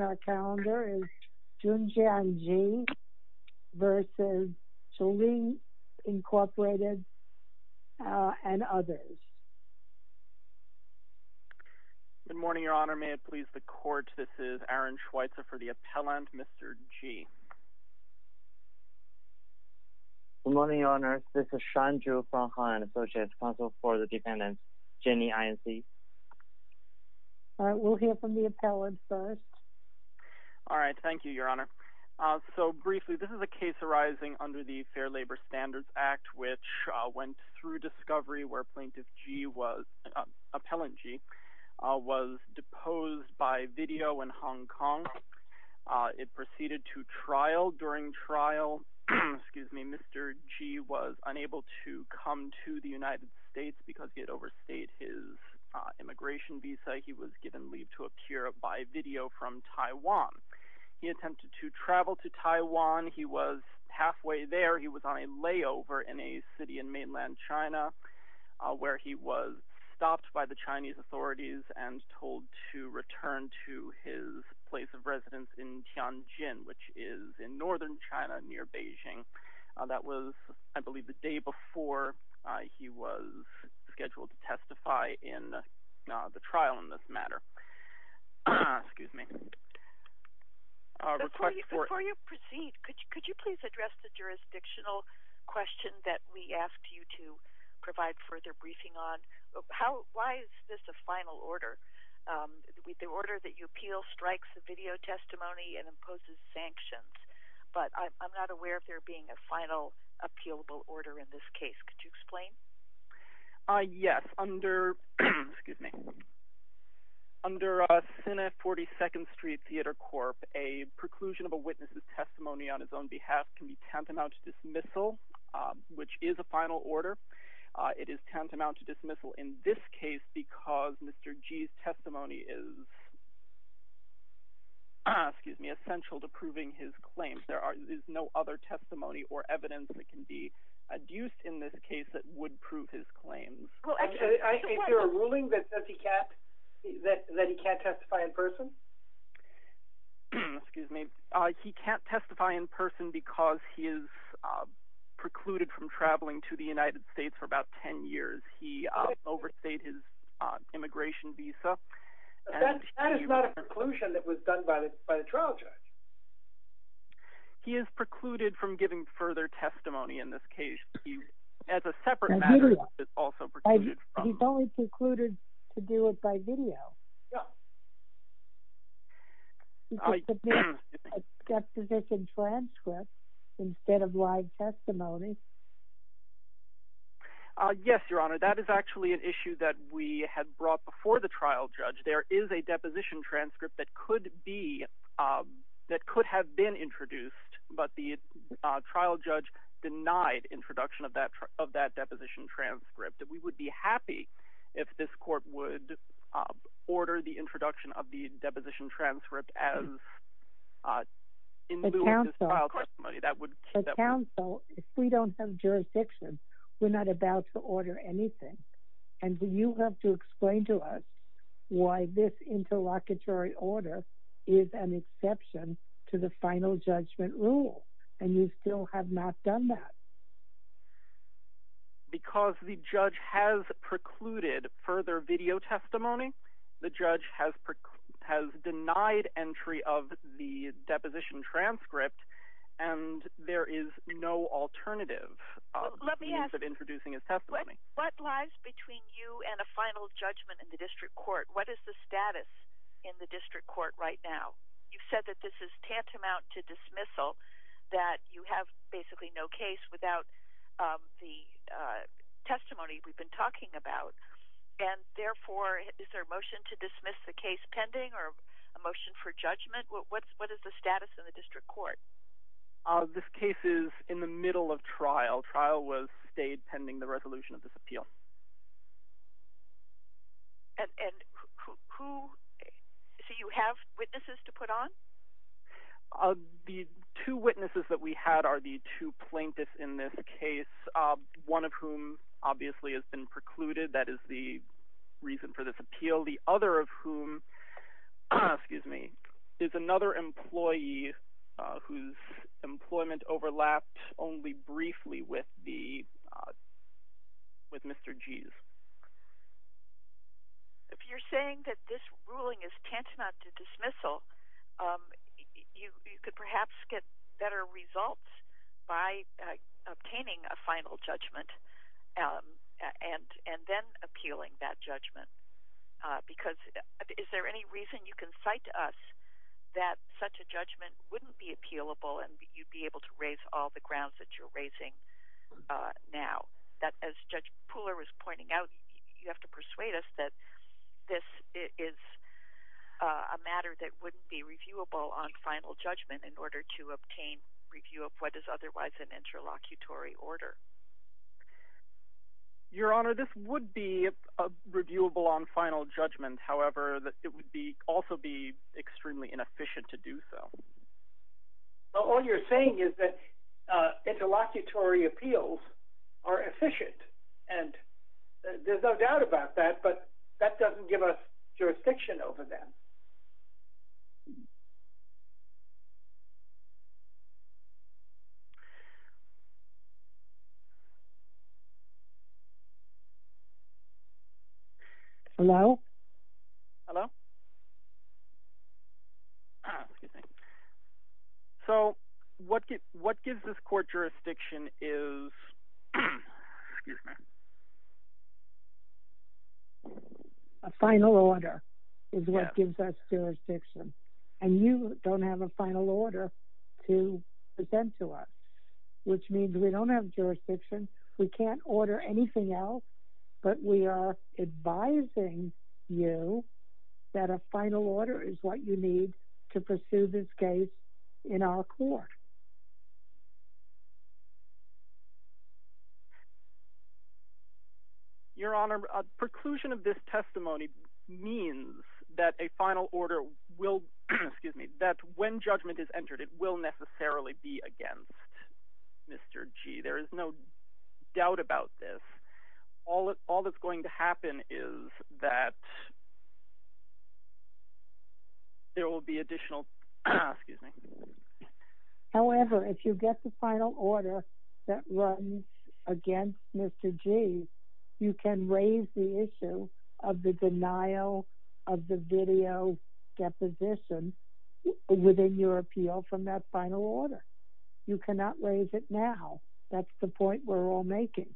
and others. Good morning, Your Honor. May it please the Court, this is Aaron Schweitzer for the appellant, Mr. G. Good morning, Your Honor. This is Shanju Fenghan, Associate Counsel for the defendant, Jenny We'll hear from the appellant first. All right. Thank you, Your Honor. So briefly, this is a case arising under the Fair Labor Standards Act, which went through discovery where Plaintiff G was, Appellant G, was deposed by video in Hong Kong. It proceeded to trial. During trial, Mr. G was unable to come to the United States because he had overstayed his immigration visa. He was given leave to a cure by video from Taiwan. He attempted to travel to Taiwan. He was halfway there. He was on a layover in a city in mainland China where he was stopped by the Chinese authorities and told to return to his place of residence in Tianjin, which is in northern China near Beijing. That was, I believe, the day before he was scheduled to testify in the trial in this matter. Excuse me. Before you proceed, could you please address the jurisdictional question that we asked you to provide further briefing on? Why is this a final order? The order that you appeal strikes a video testimony and imposes sanctions, but I'm not aware of there being a final appealable order in this case. Could you explain? Yes. Under Senate 42nd Street Theater Corp., a preclusion of a witness's testimony on his own behalf can be tantamount to dismissal, which is a final order. It is tantamount to essential to proving his claims. There is no other testimony or evidence that can be adduced in this case that would prove his claims. Is there a ruling that says he can't testify in person? He can't testify in person because he is precluded from traveling to the United States for about 10 years. He overstayed his immigration visa. But that is not a preclusion that was done by the trial judge. He is precluded from giving further testimony in this case. He, as a separate matter, is also precluded from... He's only precluded to do it by video. Yes. He could submit a juxtaposition transcript instead of live testimony. Yes, Your Honor. That is actually an issue that we had brought before the trial judge. There is a deposition transcript that could have been introduced, but the trial judge denied introduction of that deposition transcript. We would be happy if this court would order the introduction of the deposition transcript as in lieu of this trial testimony. But counsel, if we don't have jurisdiction, we're not about to order anything. And you have to explain to us why this interlocutory order is an exception to the final judgment rule, and you still have not done that. Because the judge has precluded further video testimony. The judge has denied entry of the And there is no alternative... Let me ask... ...to introducing his testimony. What lies between you and a final judgment in the district court? What is the status in the district court right now? You've said that this is tantamount to dismissal, that you have basically no case without the testimony we've been talking about. And therefore, is there a motion to dismiss the case pending or a motion for judgment? What is the status in the district court? This case is in the middle of trial. Trial was stayed pending the resolution of this appeal. And who... So you have witnesses to put on? The two witnesses that we had are the two plaintiffs in this case, one of whom obviously has been precluded. That is the reason for this appeal. The other of whom is another employee whose employment overlapped only briefly with Mr. G's. If you're saying that this ruling is tantamount to dismissal, you could perhaps get better results by obtaining a final judgment and then appealing that judgment. Because is there any reason you can cite to us that such a judgment wouldn't be appealable and you'd be able to raise all the grounds that you're raising now? That as Judge Pooler was pointing out, you have to persuade us that this is a matter that wouldn't be reviewable on final judgment in order to obtain review of what is otherwise an interlocutory order. Your Honor, this would be reviewable on final judgment. However, it would also be extremely inefficient to do so. All you're saying is that interlocutory appeals are efficient. And there's no doubt about that, but that doesn't give us jurisdiction over them. Hello? Hello? So, what gives this court jurisdiction is a final order is what gives us jurisdiction. And you don't have a final order to present to us, which means we don't have jurisdiction. We can't order anything else, but we are advising you that a final order is what you need to pursue this case in our court. Your Honor, preclusion of this testimony means that a final order will, excuse me, that when judgment is entered, it will necessarily be against Mr. G. There is no doubt about this. All that's going to happen is that there will be additional, excuse me. However, if you get the final order that runs against Mr. G., you can raise the issue of the denial of the video deposition within your appeal from that final order. You cannot raise it now. That's the point we're all making.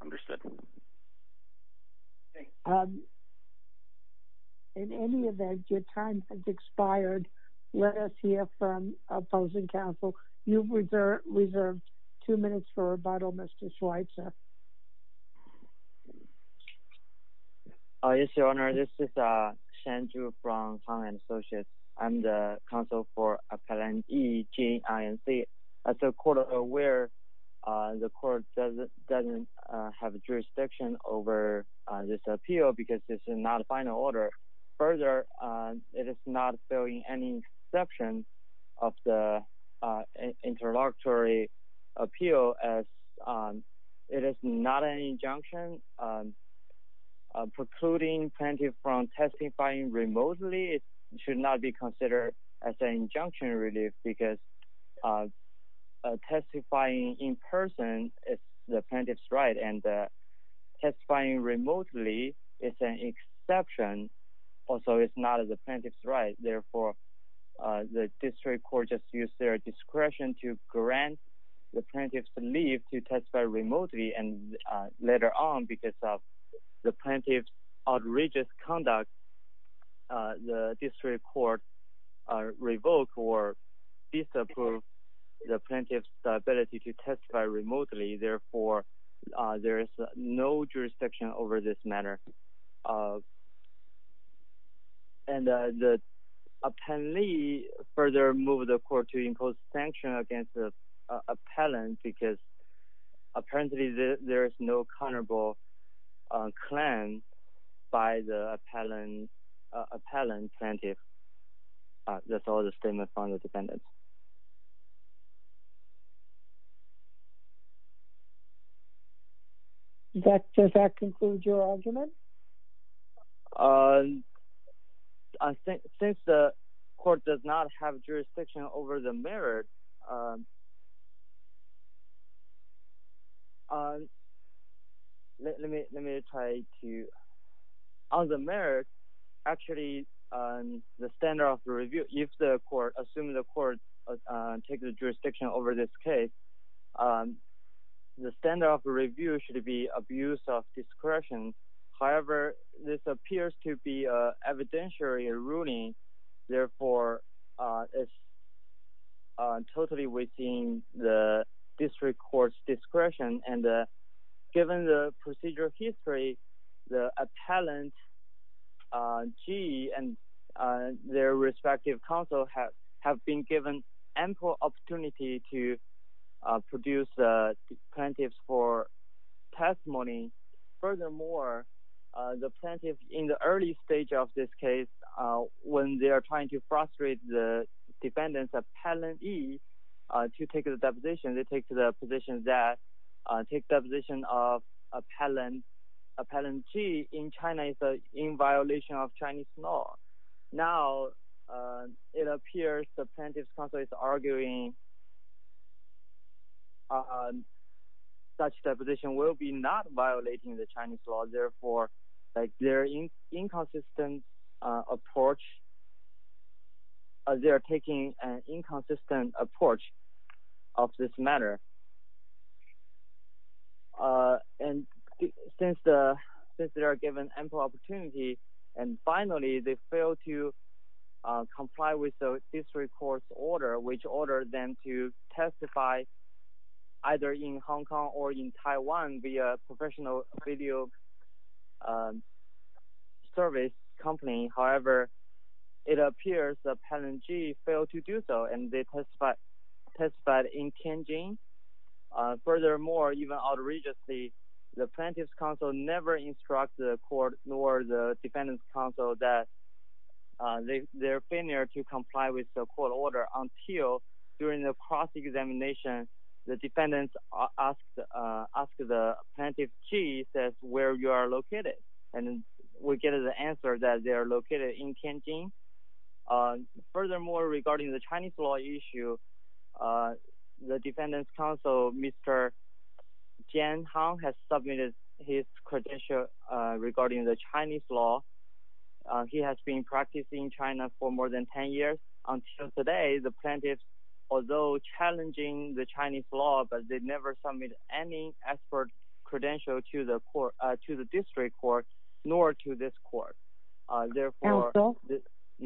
Understood. In any event, your time has expired. Let us hear from opposing counsel. You've reserved two minutes for rebuttal, Mr. Schweitzer. Yes, your Honor. This is Shan Zhu from Conland Associates. I'm the counsel for Appellant E, G, I, and C. As the court is aware, the court doesn't have jurisdiction over this appeal because this is not a exception of the interlocutory appeal. It is not an injunction. Precluding plaintiff from testifying remotely should not be considered as an injunction, really, because testifying in person is the district court just used their discretion to grant the plaintiff's leave to testify remotely. And later on, because of the plaintiff's outrageous conduct, the district court revoked or disapproved the plaintiff's ability to testify remotely. Therefore, there is no jurisdiction over this matter. And the appellee further moved the court to impose sanctions against the appellant because apparently there is no countable claim by the appellant plaintiff. That's all the statement from the defendant. Does that conclude your argument? Since the court does not have jurisdiction over the merit, let me try to... On the merit, actually, the standard of review, if the court, assuming the court takes the jurisdiction over this case, the standard of review should be abuse of discretion. However, this appears to be evidentiary ruling. Therefore, it's totally within the district court's discretion. And given the procedural history, the appellant G and their respective counsel have been given ample opportunity to produce plaintiffs for testimony. Furthermore, the plaintiff, in the early stage of this case, when they are trying to frustrate the defendant's appellant E to take the deposition, they take the position that taking the position of appellant G in China is in violation of Chinese law. Now, it appears the plaintiff's counsel is arguing such deposition will be not violating the Chinese law. Therefore, they're taking an inconsistent approach of this matter. And since they are given ample opportunity, and finally, they fail to comply with the district court's order, which ordered them to testify either in Hong Kong or in Taiwan via professional video service company. However, it appears that appellant G failed to do so, and they testified in Tianjin. Furthermore, even outrageously, the plaintiff's counsel never instructs the court nor the defendant's counsel that they're failure to comply with the court order until during the cross-examination, the defendant asks the plaintiff G, says, where you are located? And we get the defendant's counsel, Mr. Jian Hong, has submitted his credential regarding the Chinese law. He has been practicing in China for more than 10 years. Until today, the plaintiff, although challenging the Chinese law, but they never submitted any expert credential to the district court, nor to this court. Therefore...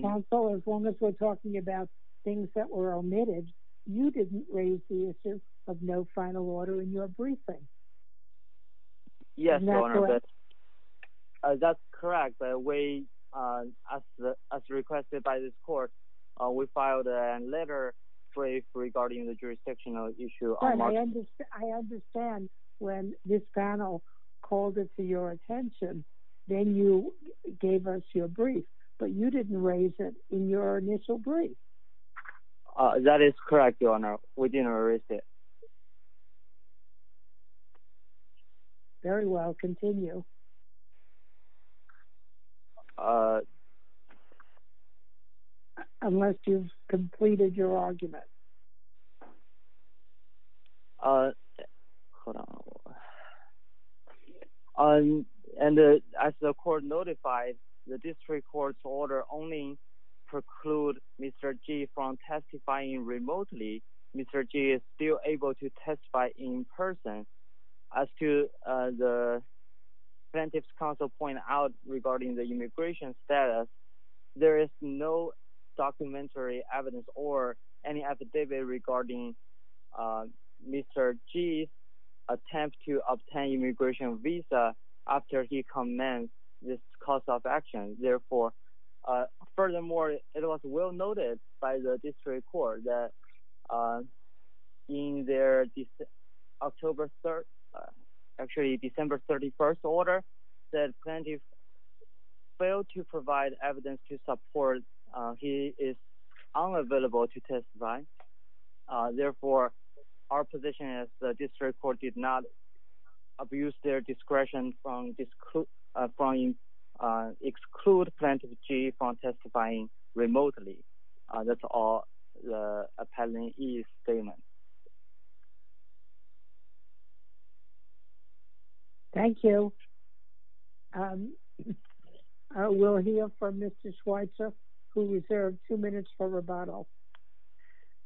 Counsel, as long as we're talking about things that were omitted, you didn't raise the issue of no final order in your briefing. Yes, Your Honor, that's correct. But we, as requested by this court, we filed a letter regarding the jurisdictional issue on March... I understand when this panel called it to your attention, then you gave us your brief, but you didn't raise it in your initial brief. That is correct, Your Honor, we didn't raise it. Very well, continue. Unless you've completed your argument. Hold on. And as the court notified, the district court's order only preclude Mr. G from testifying remotely. Mr. G is still able to testify in person. As to the plaintiff's counsel point out regarding the attempt to obtain immigration visa after he commenced this course of action. Therefore, furthermore, it was well noted by the district court that in their October 3rd, actually December 31st order, that plaintiff failed to provide evidence to support he is unavailable to testify. Therefore, our position is the district court did not abuse their discretion from exclude plaintiff G from testifying remotely. That's all the appellant E's statement. Thank you. We'll hear from Mr. Schweitzer, who reserved two minutes for rebuttal.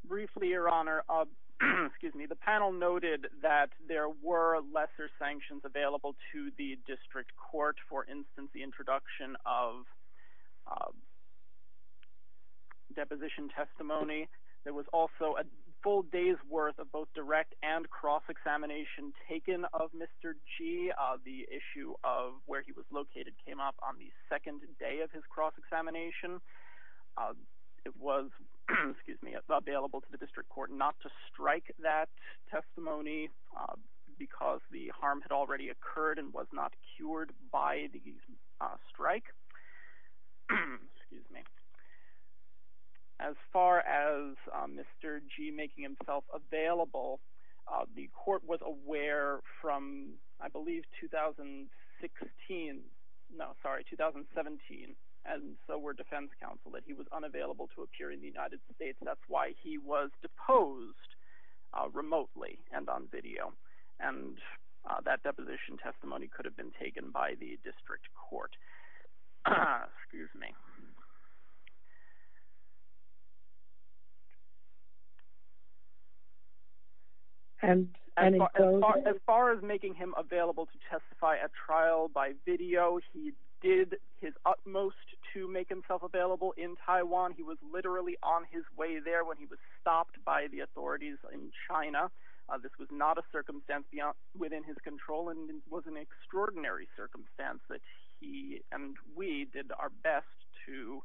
Briefly, Your Honor, the panel noted that there were lesser sanctions available to the district court. For instance, the introduction of deposition testimony. There was also a full day's worth of both direct and cross examination taken of Mr. G. The issue of where he was located came up on the second day of his cross examination. It was available to the district court not to strike that testimony because the harm had already occurred and was not cured by the strike. As far as Mr. G making himself available, the court was aware from, I believe, 2016. No, sorry, 2017. And so were defense counsel that he was unavailable to appear in the United States. That's why he was deposed remotely and on video. And that deposition testimony could have been taken by the district court. Excuse me. And as far as making him available to testify at trial by video, he did his utmost to make himself available in Taiwan. He was literally on his way there when he was stopped by the authorities in China. This was not a circumstance within his control and was an extraordinary circumstance that he and we did our best to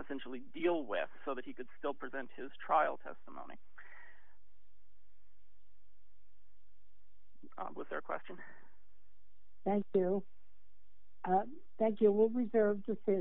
essentially deal with so that he could still present his trial testimony. Was there a question? Thank you. Thank you. We'll reserve this interview.